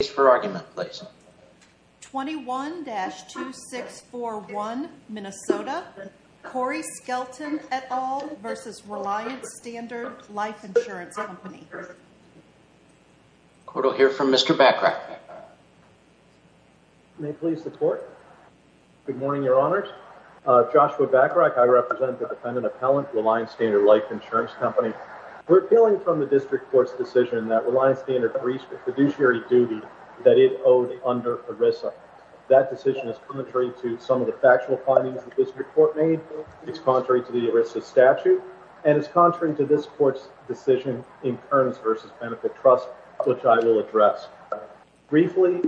21-2641 Minnesota Corey Skelton et al. v. Reliance Standard Life Insurance Company Court will hear from Mr. Bacharach May it please the court, good morning your honors, Joshua Bacharach I represent the defendant appellant Reliance Standard Life Insurance Company. We're appealing from the district court's decision that Reliance Standard reached the fiduciary duty that it owed under ERISA. That decision is contrary to some of the factual findings that this report made, it's contrary to the ERISA statute, and it's contrary to this court's decision in Kearns v. Benefit Trust which I will address. Briefly,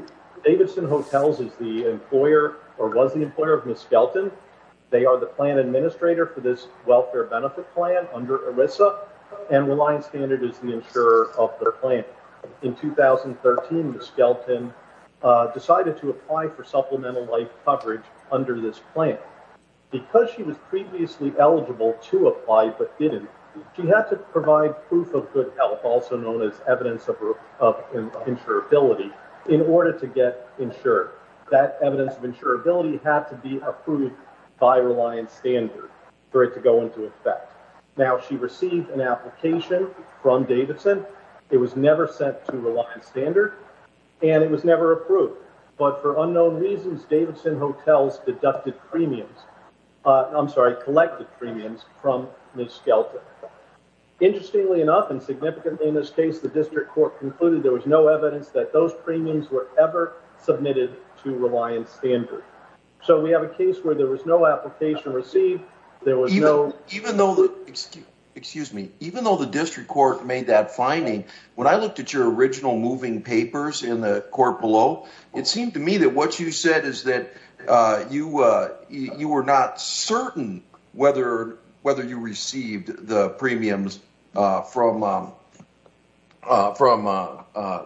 Davidson Hotels is the employer or was the employer of Ms. Skelton. They are the plan administrator for this welfare benefit plan under ERISA and Reliance Standard is the insurer of their plan. In 2013, Ms. Skelton decided to apply for supplemental life coverage under this plan. Because she was previously eligible to apply but didn't, she had to provide proof of good health also known as evidence of insurability in order to get insured. That evidence of insurability had to be approved by Reliance Standard for it to go into effect. Now she received an application from Davidson, it was never sent to Reliance Standard, and it was never approved. But for unknown reasons, Davidson Hotels deducted premiums, I'm sorry, collected premiums from Ms. Skelton. Interestingly enough and significantly in this case, the district court concluded there was no evidence that those premiums were ever submitted to Reliance Standard. So we have a case where there was no application received, there was no... Even though the district court made that finding, when I looked at your original moving papers in the court below, it seemed to me that what you said is that you were not certain whether you received the premiums from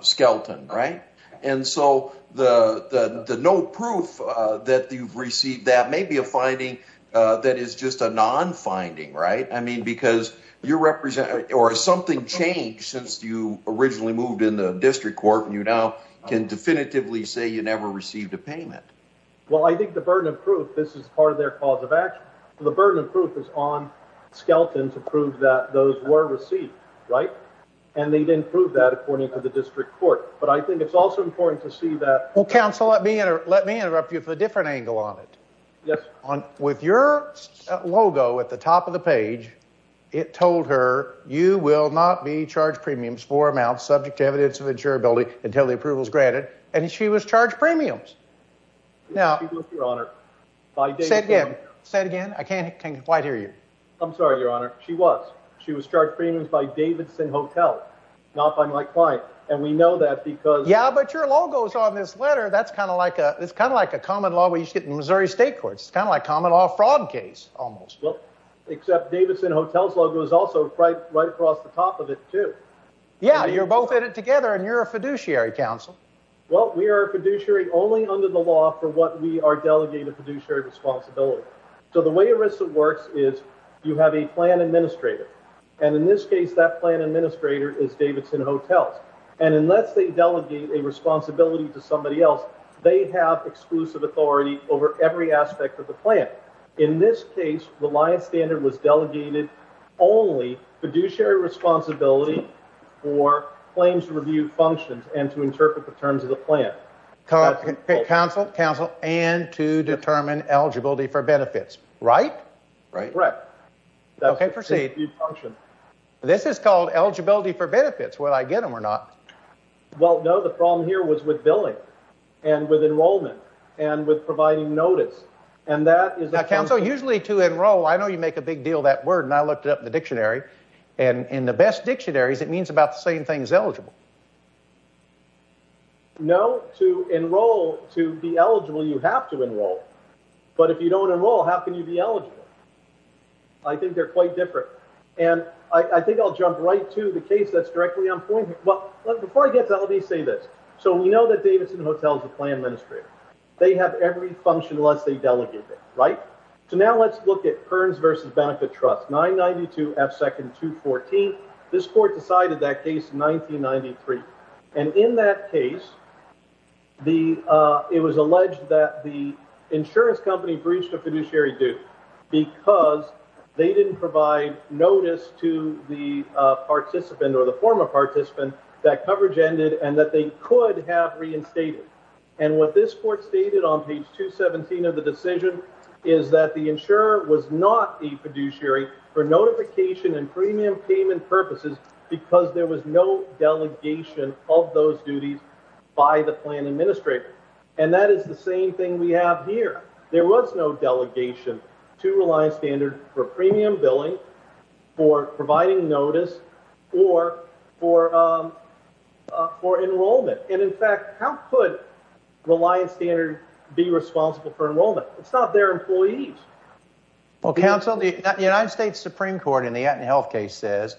Skelton, right? And so the no proof that you've received that may be a finding that is just a non-finding, right? I mean, because you're representing... Or something changed since you originally moved in the district court and you now can definitively say you never received a payment. Well, I think the burden of proof, this is part of their cause of action. The burden of proof is on Skelton to prove that those were received, right? And they didn't prove that according to the district court. But I think it's also important to see that... Well, counsel, let me interrupt you for a minute. There's a different angle on it. Yes. With your logo at the top of the page, it told her, you will not be charged premiums for amounts subject to evidence of insurability until the approval is granted. And she was charged premiums. She was, Your Honor. By Davidson Hotel. Say it again. I can't quite hear you. I'm sorry, Your Honor. She was. She was charged premiums by Davidson Hotel, not by my client. And we know that because... Yeah, but your logo is on this letter. That's kind of like a common law we used to get in Missouri State Courts. It's kind of like common law fraud case, almost. Well, except Davidson Hotel's logo is also right across the top of it, too. Yeah, you're both in it together and you're a fiduciary, counsel. Well, we are a fiduciary only under the law for what we are delegated fiduciary responsibility. So the way ERISA works is you have a plan administrator. And in this case, that plan administrator is Davidson Hotels. And unless they delegate a responsibility to somebody else, they have exclusive authority over every aspect of the plan. In this case, Reliance Standard was delegated only fiduciary responsibility for claims review functions and to interpret the terms of the plan. Counsel, counsel, and to determine eligibility for benefits, right? Right. Okay, proceed. This is called eligibility for benefits. Will I get them or not? Well, no, the problem here was with billing and with enrollment and with providing notice. And that is... Now, counsel, usually to enroll, I know you make a big deal of that word and I looked it up in the dictionary. And in the best dictionaries, it means about the same thing as eligible. No, to enroll, to be eligible, you have to enroll. But if you don't enroll, how can you be eligible? I think they're quite different. And I think I'll jump right to the case that's directly on point here. Well, before I get to that, let me say this. So we know that Davidson Hotels is a plan administrator. They have every function unless they delegate it, right? So now let's look at Kearns versus Benefit Trust, 992F2214. This court decided that case in 1993. And in that case, it was to the participant or the former participant that coverage ended and that they could have reinstated. And what this court stated on page 217 of the decision is that the insurer was not the fiduciary for notification and premium payment purposes because there was no delegation of those duties by the plan administrator. And that is the same thing we have here. There was no delegation to Reliance Standard for premium billing, for providing notice, or for enrollment. And in fact, how could Reliance Standard be responsible for enrollment? It's not their employees. Well, counsel, the United States Supreme Court in the Atlanta Health case says,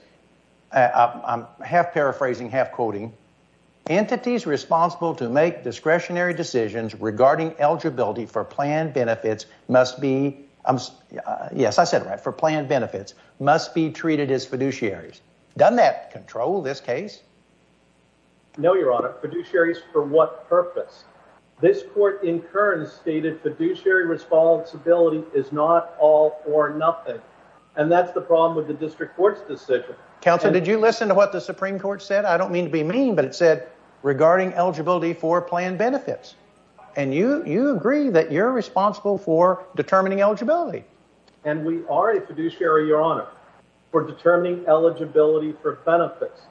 I'm half paraphrasing, half quoting, entities responsible to make discretionary decisions regarding eligibility for plan benefits must be, yes, I said it right, for plan benefits, must be treated as fiduciaries. Doesn't that control this case? No, your honor. Fiduciaries for what purpose? This court in Kearns stated fiduciary responsibility is not all or nothing. And that's the problem with the district court's decision. Counselor, did you listen to what the Supreme Court said? I don't mean to be mean, but it said regarding eligibility for plan benefits. And you agree that you're responsible for determining eligibility. And we are a fiduciary, your honor, for determining eligibility for benefits.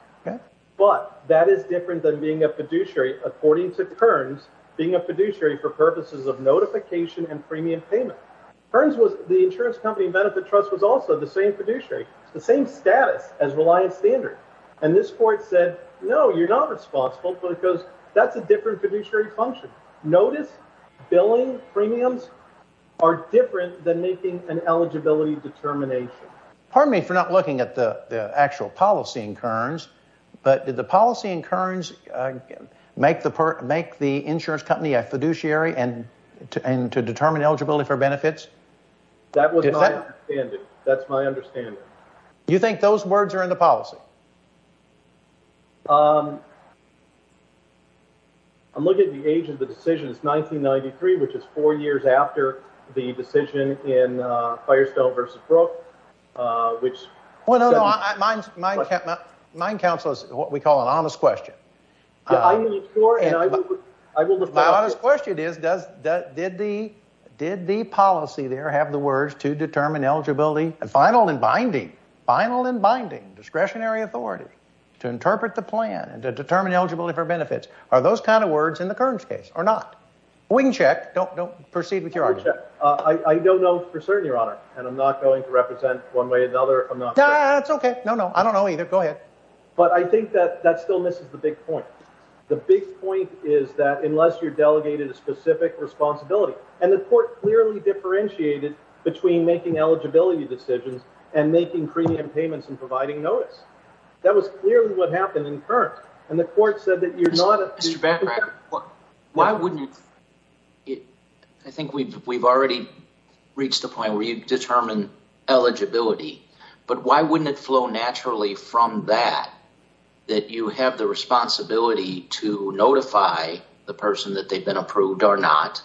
But that is different than being a fiduciary, according to Kearns, being a fiduciary for purposes of notification and premium payment. Kearns was, the insurance company Benefit Trust was also the same fiduciary, the same status as Reliance Standard. And this court said, no, you're not responsible because that's a different fiduciary function. Notice billing premiums are different than making an eligibility determination. Pardon me for not looking at the actual policy in Kearns, but did the policy in Kearns make the insurance company a fiduciary and to determine eligibility for benefits? That was my understanding. That's my understanding. You think those words are in the policy? I'm looking at the age of the decision. It's 1993, which is four years after the decision in Firestone v. Brooke, which... Well, no, no. My counsel is what we call an honest question. My honest question is, did the policy there have the words to determine a final and binding discretionary authority to interpret the plan and to determine eligibility for benefits? Are those kind of words in the Kearns case or not? Wing check. Don't proceed with your argument. Wing check. I don't know for certain, Your Honor, and I'm not going to represent one way or another. I'm not sure. That's OK. No, no. I don't know either. Go ahead. But I think that that still misses the big point. The big point is that unless you're delegated a decision and making premium payments and providing notice, that was clearly what happened in Kearns. And the court said that you're not... Mr. Bancroft, I think we've already reached the point where you determine eligibility, but why wouldn't it flow naturally from that, that you have the responsibility to notify the person that they've been approved or not,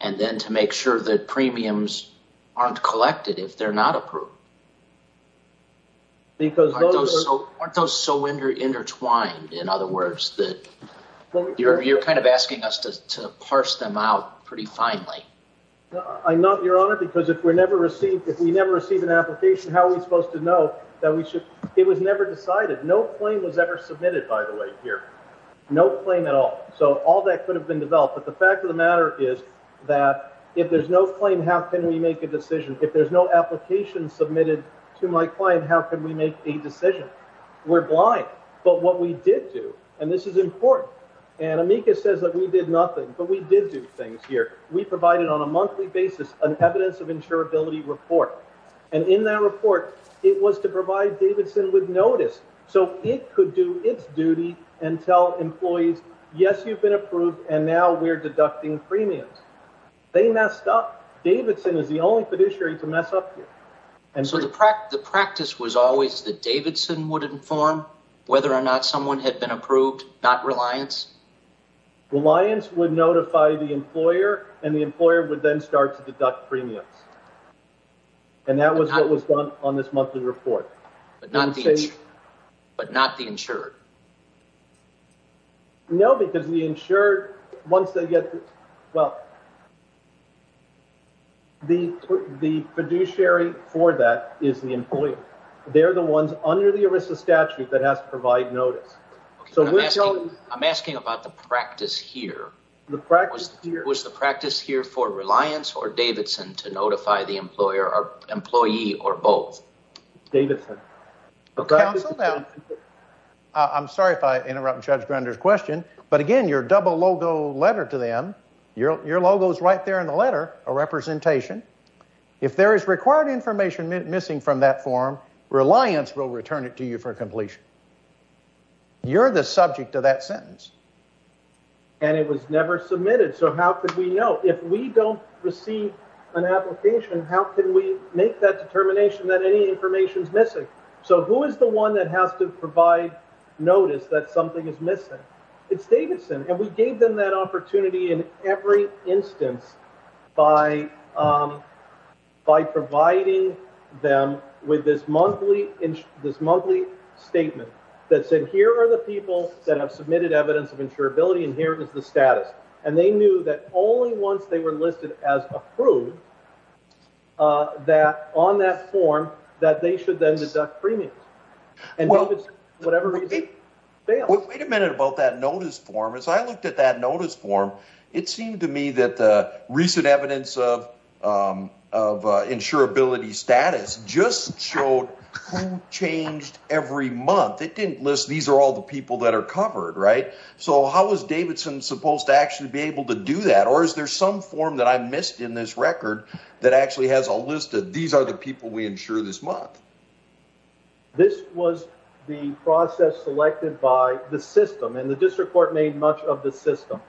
and then to make sure that premiums aren't collected if they're not approved? Aren't those so intertwined, in other words, that you're kind of asking us to parse them out pretty finely? I'm not, Your Honor, because if we never receive an application, how are we supposed to know that we should... It was never decided. No claim was ever submitted, by the way, here. No claim at all. So all that could have been developed. But the fact of the matter is that if there's no claim, how can we make a decision? If there's no application submitted to my client, how can we make a decision? We're blind. But what we did do, and this is important, and Amika says that we did nothing, but we did do things here. We provided on a monthly basis an evidence of insurability report. And in that report, it was to provide Davidson with notice so it could do its duty and tell employees, yes, you've been approved, and now we're deducting premiums. They messed up. Davidson is the only fiduciary to mess up here. So the practice was always that Davidson would inform whether or not someone had been approved, not Reliance? Reliance would notify the employer, and the employer would then start to deduct premiums. And that was what was done on this but not the insured. No, because the insured, once they get, well, the fiduciary for that is the employer. They're the ones under the ERISA statute that has to provide notice. I'm asking about the practice here. Was the practice here for Reliance or Davidson to notify the employer or employee or both? Davidson. I'm sorry if I interrupted Judge Grunder's question, but again, your double logo letter to them, your logo is right there in the letter, a representation. If there is required information missing from that form, Reliance will return it to you for completion. You're the subject of that application. How can we make that determination that any information is missing? So who is the one that has to provide notice that something is missing? It's Davidson. And we gave them that opportunity in every instance by providing them with this monthly statement that said, here are the people that have submitted evidence of insurability, and here is the status. And they knew that only once they were listed as approved, that on that form, that they should then deduct premiums. And Davidson, for whatever reason, failed. Wait a minute about that notice form. As I looked at that notice form, it seemed to me that the recent evidence of insurability status just showed who changed every month. It didn't list, these are all the people that are covered, right? So how is Davidson supposed to actually be able to do that? Or is there some form that I missed in this record that actually has a list of these are the people we insure this month? This was the process selected by the system, and the district court made much of the system.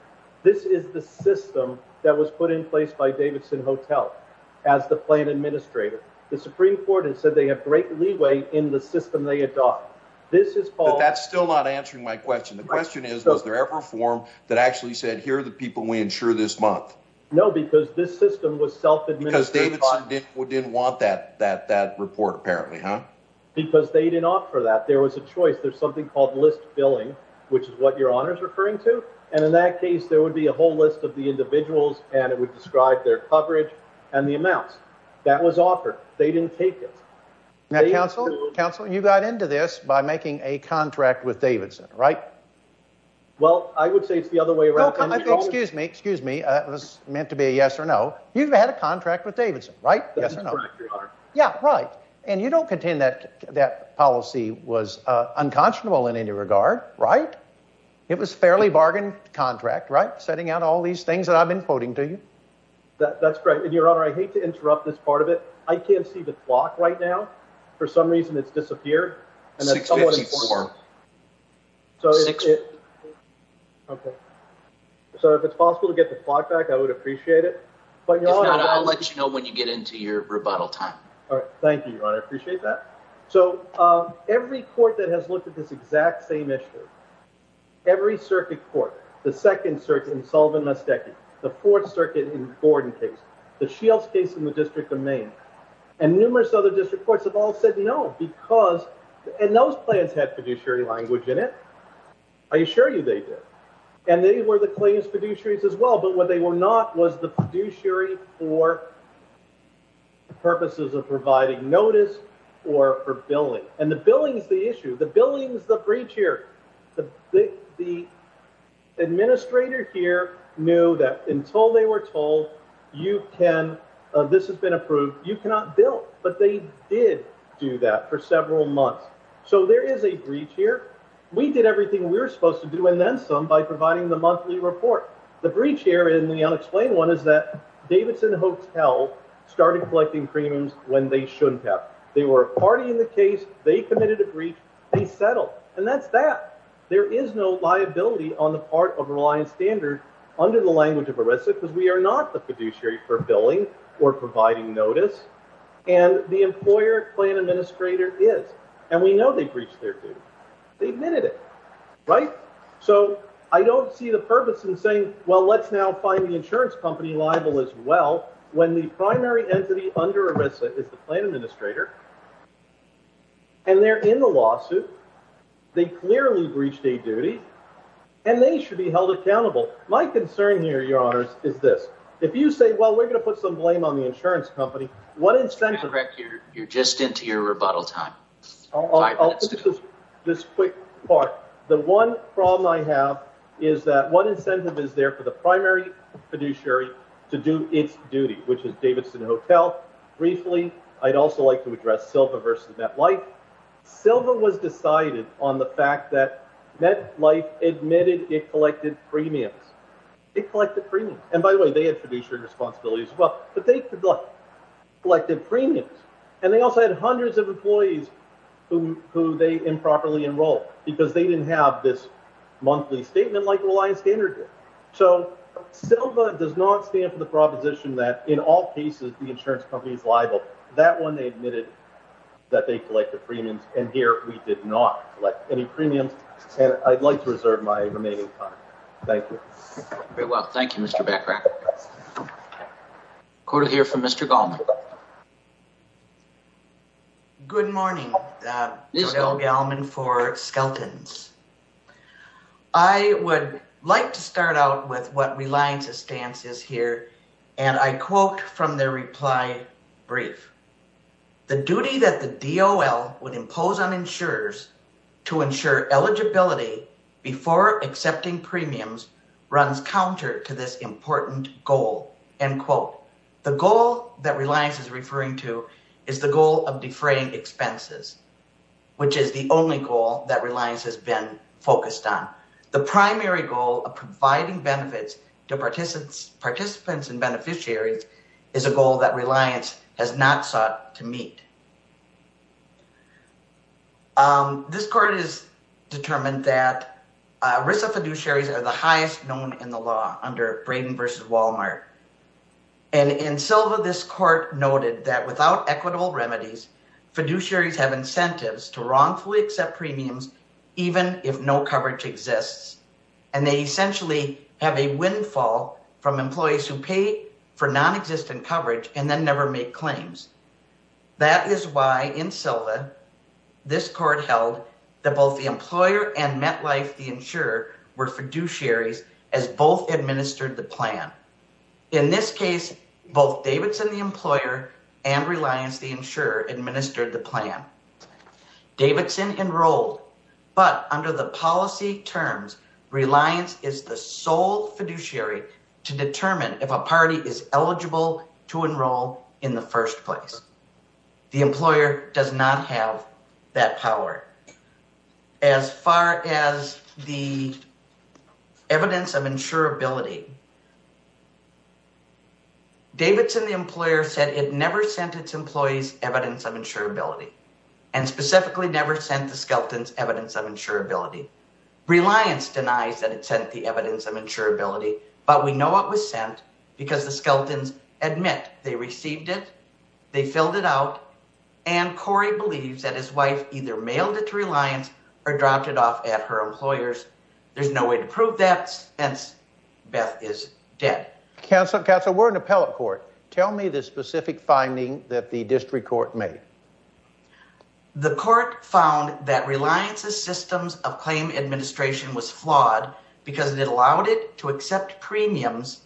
This is the system that was put in place by Davidson Hotel as the plan administrator. The Supreme Court has said they have great leeway in the system they adopt. But that's still not answering my question. The question is, was there ever a form that actually said, here are the people we insure this month? No, because this system was self-administered. Because Davidson didn't want that report, apparently, huh? Because they didn't offer that. There was a choice. There's something called list billing, which is what your Honor is referring to. And in that case, there would be a whole list of the individuals, and it would describe their coverage and the amounts. That was offered. They didn't take it. Now, Counsel, you got into this by making a contract with Davidson, right? Well, I would say it's the other way around. Excuse me, excuse me. That was meant to be a yes or no. You've had a contract with Davidson, right? Yes or no? Yeah, right. And you don't contend that that policy was unconscionable in any regard, right? It was a fairly bargained contract, right? Setting out all these things that I've been quoting to you. That's great. And your Honor, I hate to interrupt this part of it. I can't see the clock right now. For some reason, it's disappeared. So if it's possible to get the clock back, I would appreciate it. If not, I'll let you know when you get into your rebuttal time. All right. Thank you, Your Honor. I appreciate that. So every court that has looked at this exact same issue, every circuit court, the Second Circuit in Sullivan-Mastecchi, the Fourth Circuit in Gordon case, the Shields case in the District of Maine, and numerous other district courts have all said no because those plans had fiduciary language in it. I assure you they did. And they were the claims fiduciaries as well. But what they were not was the fiduciary for purposes of providing notice or for billing. And the billing is the issue. The billing is the issue. So there is a breach here. The administrator here knew that until they were told you can, this has been approved, you cannot bill. But they did do that for several months. So there is a breach here. We did everything we were supposed to do and then some by providing the monthly report. The breach here in the unexplained one is that Davidson Hotel started collecting premiums when they shouldn't have. They were partying the case. They committed a breach. They settled. And that's that. There is no liability on the part of Reliance Standard under the language of ERISA because we are not the fiduciary for billing or providing notice. And the employer plan administrator is. And we know they breached their duty. They admitted it. Right? So I don't see the purpose in saying, well, let's now find the insurance company liable as when the primary entity under ERISA is the plan administrator. And they're in the lawsuit. They clearly breached a duty. And they should be held accountable. My concern here, your honors, is this. If you say, well, we're going to put some blame on the insurance company, what incentive. You're just into your rebuttal time. This quick part. The one problem I have is that one incentive is there for the primary fiduciary to do its duty, which is Davidson Hotel. Briefly, I'd also like to address Silva versus MetLife. Silva was decided on the fact that MetLife admitted it collected premiums. It collected premiums. And by the way, they had fiduciary responsibilities as well. But they collected premiums. And they also had hundreds of employees who they improperly enrolled because they didn't have this monthly statement like Reliance Standard did. So Silva does not stand for the proposition that in all cases, the insurance company is liable. That one, they admitted that they collected premiums. And here, we did not collect any premiums. And I'd like to reserve my remaining time. Thank you. Very well. Thank you, Mr. Bachrach. I'm going to hear from Mr. Gallman. Good morning, Mr. Gallman for Skelton's. I would like to start out with what Reliance's stance is here. And I quote from their reply brief. The duty that the DOL would impose on insurers to ensure eligibility before accepting premiums runs counter to this important goal. End quote. The goal that Reliance is referring to is the goal of defraying expenses, which is the only goal that Reliance has been focused on. The primary goal of providing benefits to participants and beneficiaries is a goal that Reliance has not sought to meet. This court has determined that risk of fiduciaries are the highest known in the law under Braden v. Walmart. And in Silva, this court noted that without equitable remedies, fiduciaries have incentives to wrongfully accept premiums even if no coverage exists. And they essentially have a windfall from employees who pay for nonexistent coverage and then never make both the employer and MetLife the insurer were fiduciaries as both administered the plan. In this case, both Davidson the employer and Reliance the insurer administered the plan. Davidson enrolled, but under the policy terms, Reliance is the sole fiduciary to determine if a party is eligible to enroll in the first place. The employer does not have that power. As far as the evidence of insurability, Davidson the employer said it never sent its employees evidence of insurability and specifically never sent the skeletons evidence of insurability. Reliance denies that it sent the evidence of insurability. They received it, they filled it out, and Corey believes that his wife either mailed it to Reliance or dropped it off at her employer's. There's no way to prove that, hence Beth is dead. Counselor, we're in appellate court. Tell me the specific finding that the district court made. The court found that Reliance's systems of claim administration was flawed because it allowed it to accept premiums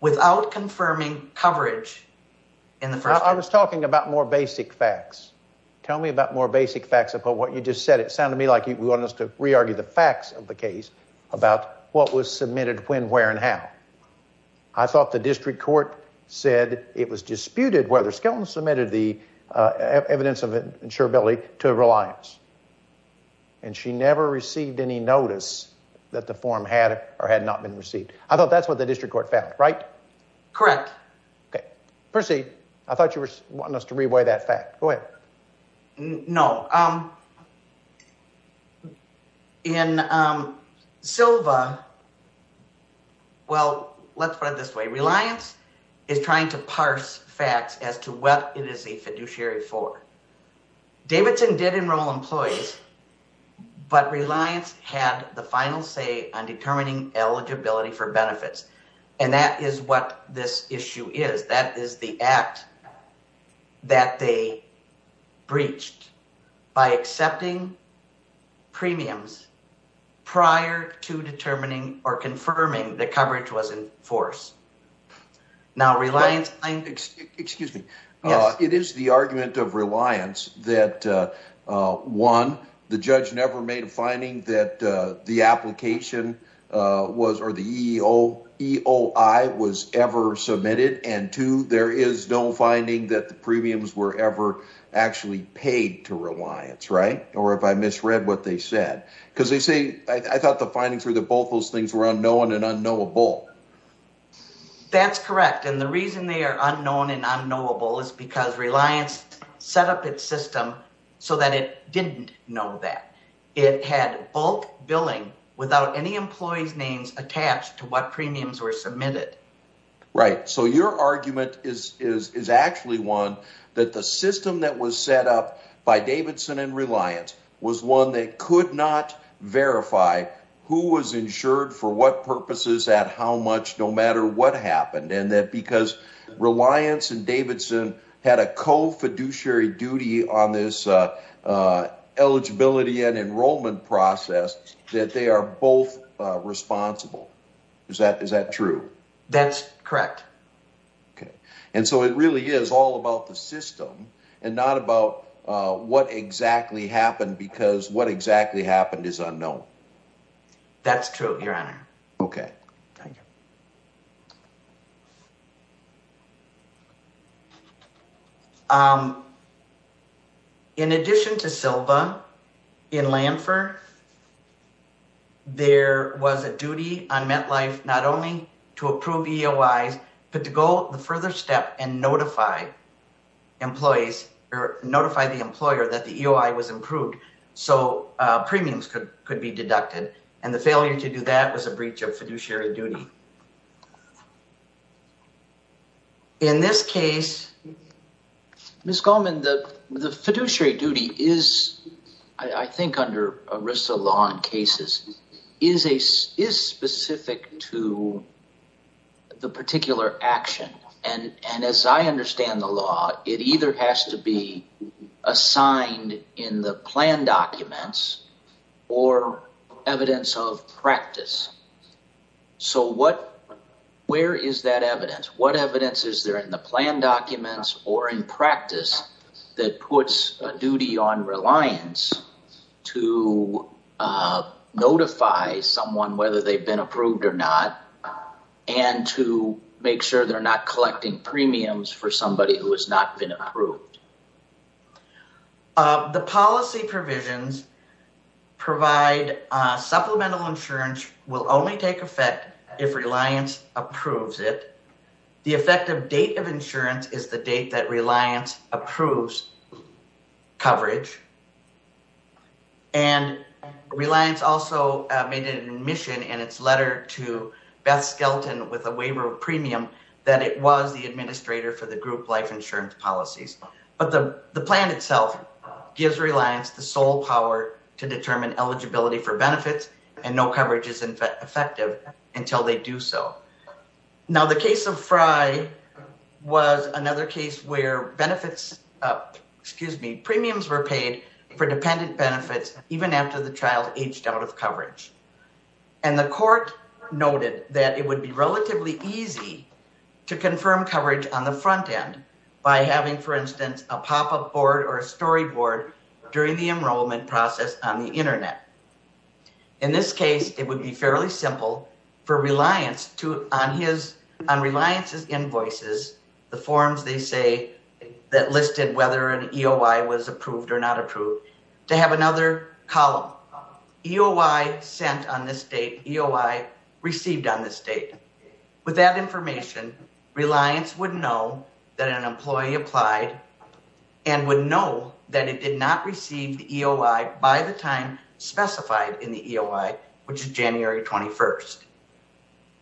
without confirming coverage. I was talking about more basic facts. Tell me about more basic facts about what you just said. It sounded to me like you want us to re-argue the facts of the case about what was submitted when, where, and how. I thought the district court said it was disputed whether Skelton submitted the evidence of insurability to Reliance and she never received any notice that the form had or had not been received. I thought that's what the district court found, right? Correct. Okay, proceed. I thought you were wanting us to re-weigh that fact. Go ahead. No. In Silva, well, let's put it this way. Reliance is trying to parse facts as to what it is a fiduciary for. Davidson did enroll employees, but Reliance had the final say on determining eligibility for benefits and that is what this issue is. That is the act that they breached by accepting premiums prior to determining or now Reliance. Excuse me. It is the argument of Reliance that one, the judge never made a finding that the application was or the EOI was ever submitted and two, there is no finding that the premiums were ever actually paid to Reliance, right? Or if I misread what they said. Because they say, I thought the findings were that both those things were unknown and unknowable. That's correct. And the reason they are unknown and unknowable is because Reliance set up its system so that it didn't know that. It had bulk billing without any employees names attached to what premiums were submitted. Right. So your argument is actually one that the system that was set up by Davidson and Reliance was one that could not verify who was insured for what purposes at how much no matter what happened and that because Reliance and Davidson had a co-fiduciary duty on this eligibility and enrollment process that they are both responsible. Is that true? That's correct. Okay. And so it really is all about the system and not about what exactly happened because what exactly happened is unknown. That's true, your honor. Okay. Thank you. In addition to Silva in Lanford, there was a duty on MetLife not only to approve EOIs, but to go the further step and notify employees or notify the employer that the EOI was approved so premiums could be deducted. And the failure to do that was a breach of fiduciary duty. In this case, Ms. Goldman, the fiduciary duty is, I think, under ERISA law and cases, is specific to the particular action. And as I understand the law, it either has to be assigned in the plan documents or evidence of practice. So where is that evidence? What evidence is there in the plan documents or in practice that puts a duty on Reliance to notify someone whether they've been approved or not, and to make sure they're not collecting premiums for somebody who has not been approved? The policy provisions provide supplemental insurance will only take effect if Reliance approves it. The effective date of insurance is the date that Reliance approves coverage. And Reliance also made an admission in its letter to Beth Skelton with a waiver of premium that it was the administrator for the group life insurance policies. But the plan itself gives Reliance the sole power to determine eligibility for benefits, and no coverage is effective until they do so. Now, the case of Frye was another case where benefits, excuse me, premiums were paid for dependent benefits even after the child aged out of coverage. And the court noted that it would be relatively easy to confirm coverage on the front end by having, for instance, a pop-up board or a storyboard during the enrollment process on the internet. In this case, it would be fairly simple for Reliance to, on Reliance's invoices, the forms they say that listed whether an EOI was approved or not approved, to have another column. EOI sent on this date, EOI received on this date. With that information, Reliance would know that an employee applied and would know that it did not receive the EOI by the time specified in the EOI, which is January 21st.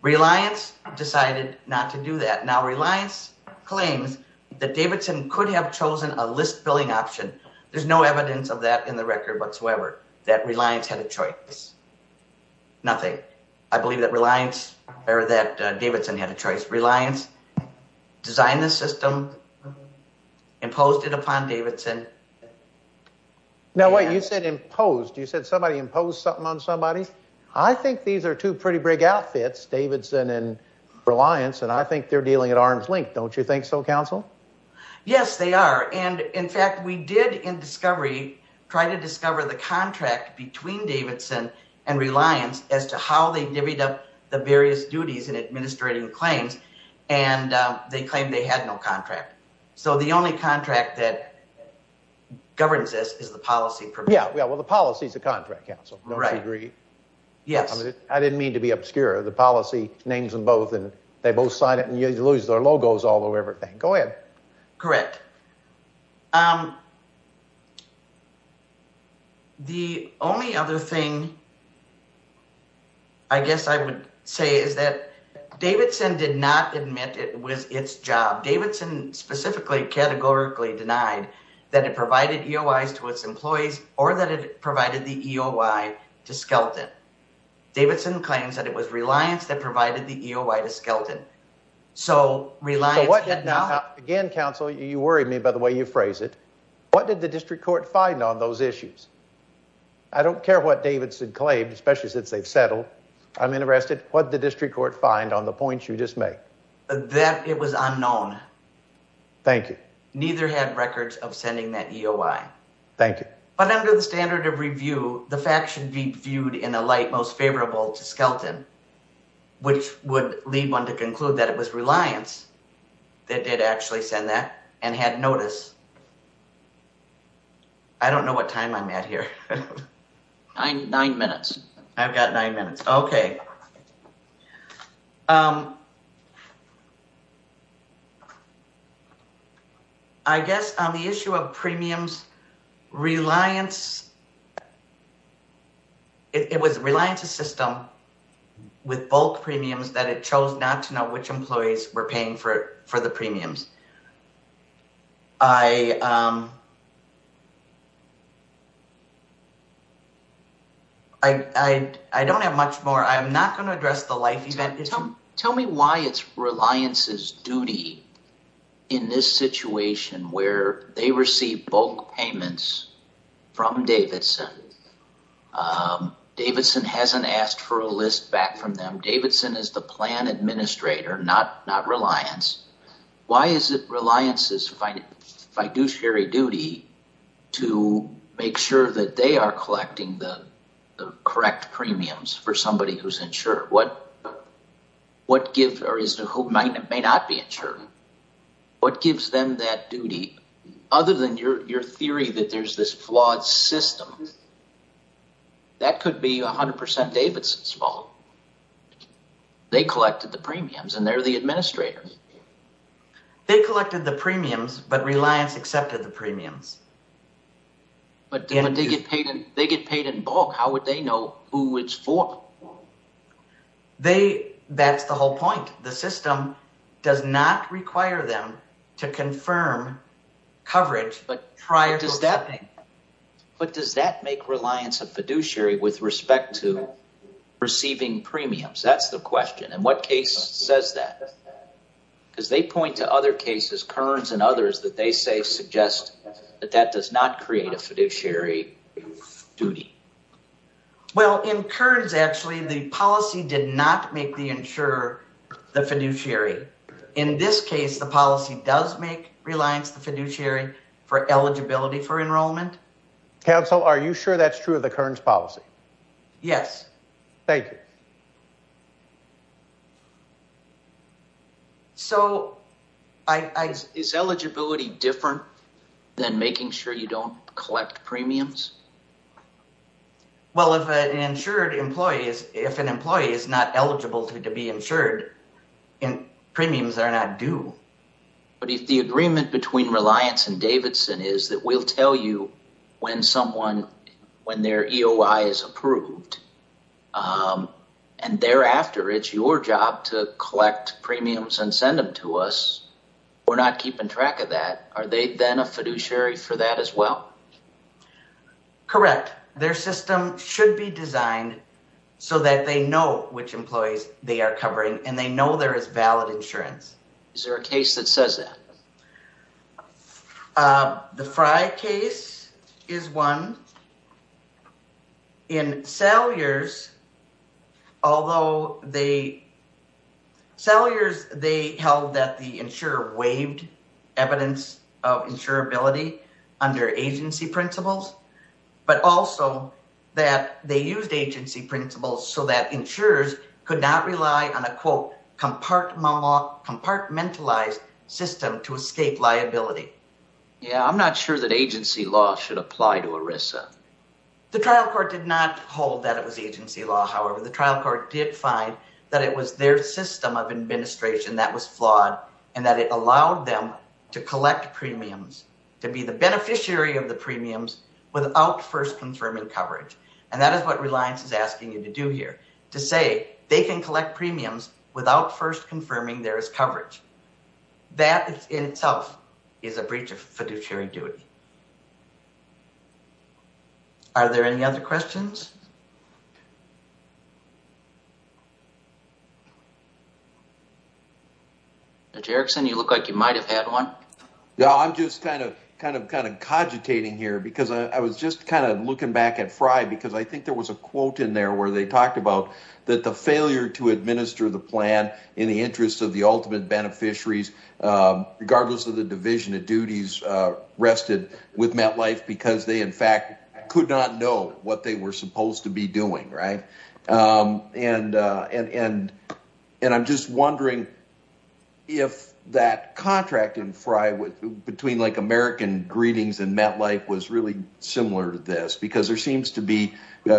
Reliance decided not to do that. Now, Reliance claims that Davidson could have chosen a list billing option. There's no evidence of that in the record whatsoever, that Reliance had a choice. Nothing. I believe that Davidson had a choice. Reliance designed the system, imposed it upon Davidson. Now, wait, you said imposed. You said somebody imposed something on somebody? I think these are two pretty big outfits, Davidson and Reliance, and I think they're dealing at arm's length. Don't you think so, counsel? Yes, they are. And in fact, we did in discovery try to discover the contract between Davidson and Reliance as to how they divvied up the various duties in administrating claims, and they claimed they had no contract. So the only contract that governs this is the policy. Yeah, well, the policy is the contract, counsel. Don't you agree? Yes. I mean, I didn't mean to be obscure. The policy names them both, and they both sign it, and you lose their logos all over everything. Go ahead. Correct. The only other thing I guess I would say is that Davidson did not admit it was its job. Davidson specifically categorically denied that it provided EOIs to its employees or that it provided the EOI to Skelton. Davidson claims that it was Reliance that provided the EOI to Skelton. So Reliance had not... Again, counsel, you worry me by the way you phrase it. What did the district court find on those issues? I don't care what Davidson claimed, especially since they've settled. I'm interested. What did the district court find on the points you just made? That it was unknown. Thank you. Neither had records of sending that EOI. Thank you. But under the standard of review, the facts should be viewed in a light most favorable to Skelton, which would lead one to conclude that it was Reliance that did actually send that and had notice. I don't know what time I'm at here. Nine minutes. I've got nine minutes. Okay. I guess on the issue of premiums, Reliance... It was Reliance's system with bulk premiums that it chose not to know which employees were paying for the premiums. I don't have much more. I'm not going to address the life event issue. Tell me why it's Reliance's duty in this situation where they receive bulk payments from Davidson. Davidson hasn't asked for a list back from them. Davidson is the administrator, not Reliance. Why is it Reliance's fiduciary duty to make sure that they are collecting the correct premiums for somebody who may not be insured? What gives them that duty? Other than your theory that there's this flawed system, that could be 100% Davidson's fault. They collected the premiums, and they're the administrators. They collected the premiums, but Reliance accepted the premiums. But they get paid in bulk. How would they know who it's for? That's the whole point. The system does not require them to confirm coverage prior to accepting. But does that make Reliance a fiduciary with respect to receiving premiums? That's the question. And what case says that? Because they point to other cases, Kearns and others, that they say suggest that that does not create a fiduciary duty. Well, in Kearns, actually, the policy did not make the insurer the fiduciary. In this case, the policy does make Reliance the fiduciary for eligibility for enrollment. Counsel, are you sure that's true of the Kearns policy? Yes. Thank you. So, is eligibility different than making sure you don't collect premiums? Well, if an insured employee, if an employee is not eligible to be insured, and premiums are not due. But if the agreement between Reliance and Davidson is that we'll tell you when someone, when their EOI is approved, and thereafter, it's your job to collect premiums and send them to us, we're not keeping track of that. Are they then a fiduciary for that as well? Correct. Their system should be designed so that they know which employees they are covering and they know there is valid insurance. Is there a case that says that? The Frye case is one. In Salyers, although they, Salyers, they held that the insurer waived evidence of insurability under agency principles, but also that they used agency principles so that compartmentalized system to escape liability. Yeah, I'm not sure that agency law should apply to ERISA. The trial court did not hold that it was agency law. However, the trial court did find that it was their system of administration that was flawed, and that it allowed them to collect premiums, to be the beneficiary of the premiums without first confirming coverage. And that is what Reliance is asking you to do here, to say they can collect premiums without first confirming there is coverage. That in itself is a breach of fiduciary duty. Are there any other questions? Judge Erickson, you look like you might have had one. Yeah, I'm just kind of, kind of, kind of cogitating here because I was just kind of at FRI because I think there was a quote in there where they talked about that the failure to administer the plan in the interest of the ultimate beneficiaries, regardless of the division of duties, rested with MetLife because they, in fact, could not know what they were supposed to be doing, right? And, and, and I'm just wondering if that contract in FRI between like American Greetings and MetLife was really similar to this because there seems to be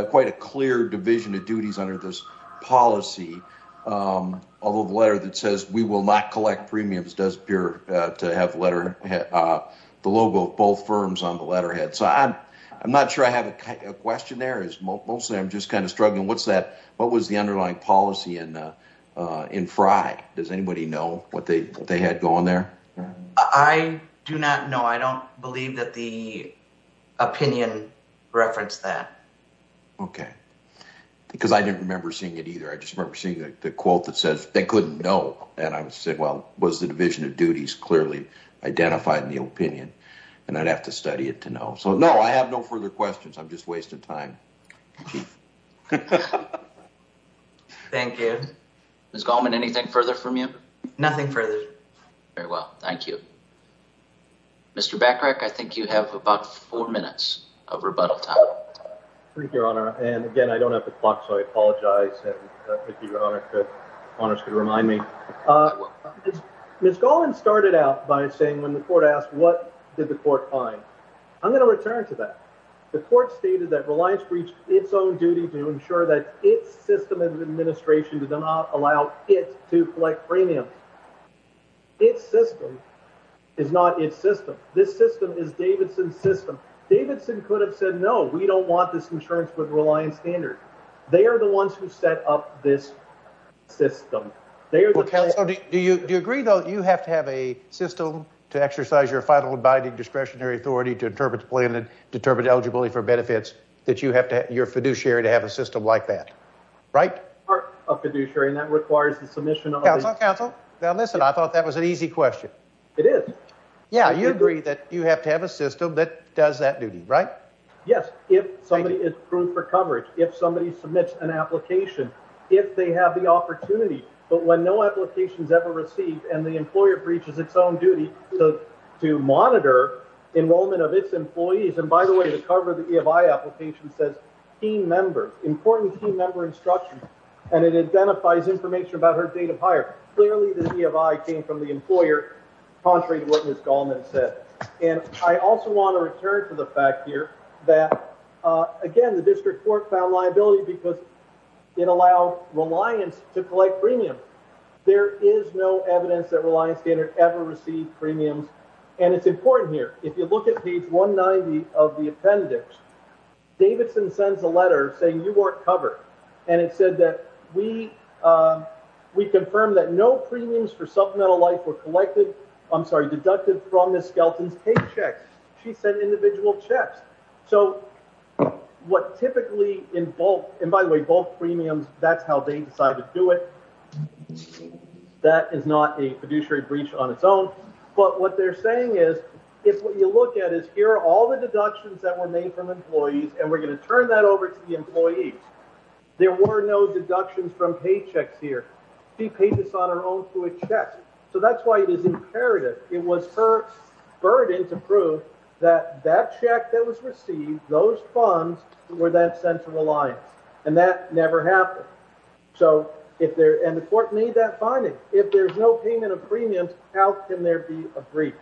quite a clear division of duties under this policy. Although the letter that says we will not collect premiums does appear to have letter, the logo of both firms on the letterhead. So I'm, I'm not sure I have a question there. It's mostly, I'm just kind of struggling. What's that, what was the underlying policy in, in FRI? Does anybody know what they, what they had going there? I do not know. I don't believe that the opinion referenced that. Okay. Because I didn't remember seeing it either. I just remember seeing the quote that says they couldn't know. And I would say, well, was the division of duties clearly identified in the opinion? And I'd have to study it to know. So no, I have no further questions. I'm just wasting time. Thank you. Ms. Goldman, anything further from you? Nothing further. Very well. Thank you. Mr. Bacharach, I think you have about four minutes of rebuttal time. Thank you, Your Honor. And again, I don't have the clock, so I apologize. If Your Honor could honestly remind me. Ms. Goldman started out by saying when the court asked, what did the court find? I'm going to return to that. The court stated that Reliance breached its own duty to ensure that its system of administration did not allow it to collect premiums. Its system is not its system. This system is Davidson's system. Davidson could have said, no, we don't want this insurance with Reliance standards. They are the ones who set up this system. Well, counsel, do you agree, though, you have to have a system to exercise your final abiding discretionary authority to interpret the plan and determine eligibility for benefits that you have to have your fiduciary to have a system like that, right? A fiduciary that requires the submission of counsel. Now, listen, I thought that was an easy question. It is. Yeah. You agree that you have to have a system that does that duty, right? Yes. If somebody is approved for coverage, if somebody submits an application, if they have the opportunity, but when no applications ever received and the employer breaches its own duty to monitor enrollment of its employees. And by the way, the cover of the EFI application says team member, important team member instruction, and it identifies information about her date of hire. Clearly, the EFI came from the employer, contrary to what Ms. Goldman said. And I also want to return to the fact here that, again, the district court found liability because it allowed Reliance to collect premium. There is no evidence that Reliance standard ever received saying you weren't covered. And it said that we confirmed that no premiums for supplemental life were collected, I'm sorry, deducted from Ms. Skelton's paycheck. She sent individual checks. So what typically in bulk, and by the way, both premiums, that's how they decided to do it. That is not a fiduciary breach on its own. But what they're saying is if what you look at is all the deductions that were made from employees, and we're going to turn that over to the employees, there were no deductions from paychecks here. She paid this on her own through a check. So that's why it is imperative. It was her burden to prove that that check that was received, those funds were then sent to Reliance. And that never happened. And the court made that finding. If there's no payment of premiums, how can there be a breach?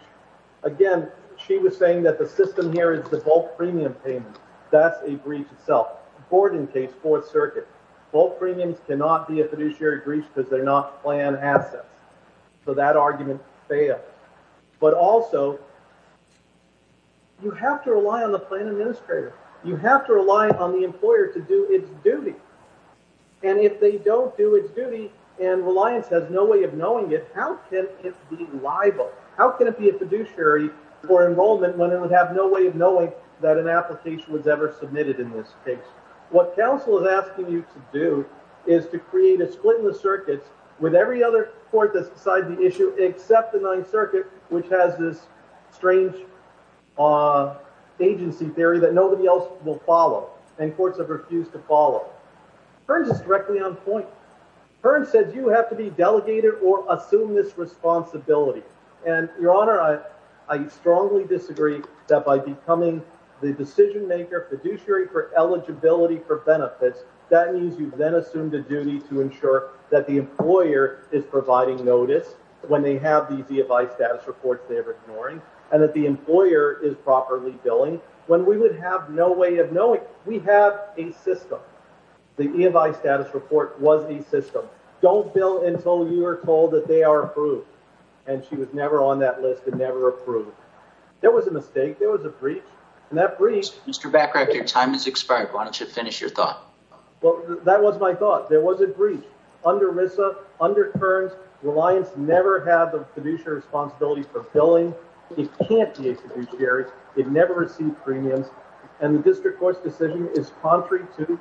Again, she was saying that the system here is the bulk premium payment. That's a breach itself. Borden case, Fourth Circuit, bulk premiums cannot be a fiduciary breach because they're not plan assets. So that argument failed. But also, you have to rely on the plan administrator. You have to rely on the employer to do its duty. And if they don't do its duty, and Reliance has no way of knowing it, how can it be liable? How can it be a fiduciary for enrollment when it would have no way of knowing that an application was ever submitted in this case? What counsel is asking you to do is to create a split in the circuits with every other court that's beside the issue, except the Ninth Circuit, which has this strange agency theory that nobody else will follow, and courts have refused to follow. Hearns is directly on point. Hearns says you have to be responsible. Your Honor, I strongly disagree that by becoming the decision-maker fiduciary for eligibility for benefits, that means you've then assumed a duty to ensure that the employer is providing notice when they have these EFI status reports they're ignoring, and that the employer is properly billing. When we would have no way of knowing, we have a system. The EFI status report was a system. Don't bill until you are told that they are approved, and she was never on that list and never approved. There was a mistake. There was a breach, and that breach... Mr. Bacharach, your time has expired. Why don't you finish your thought? Well, that was my thought. There was a breach. Under RISA, under Hearns, Reliance never had the fiduciary responsibility for billing. It can't be a fiduciary. It never received premiums, and the district court's decision is contrary to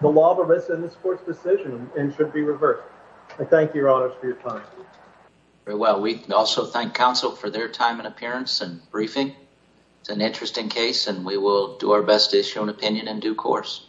the law of RISA and this court's decision and should be reversed. I thank you, Your Honor, for your time. Very well. We also thank counsel for their time and appearance and briefing. It's an interesting case, and we will do our best to show an opinion in due course.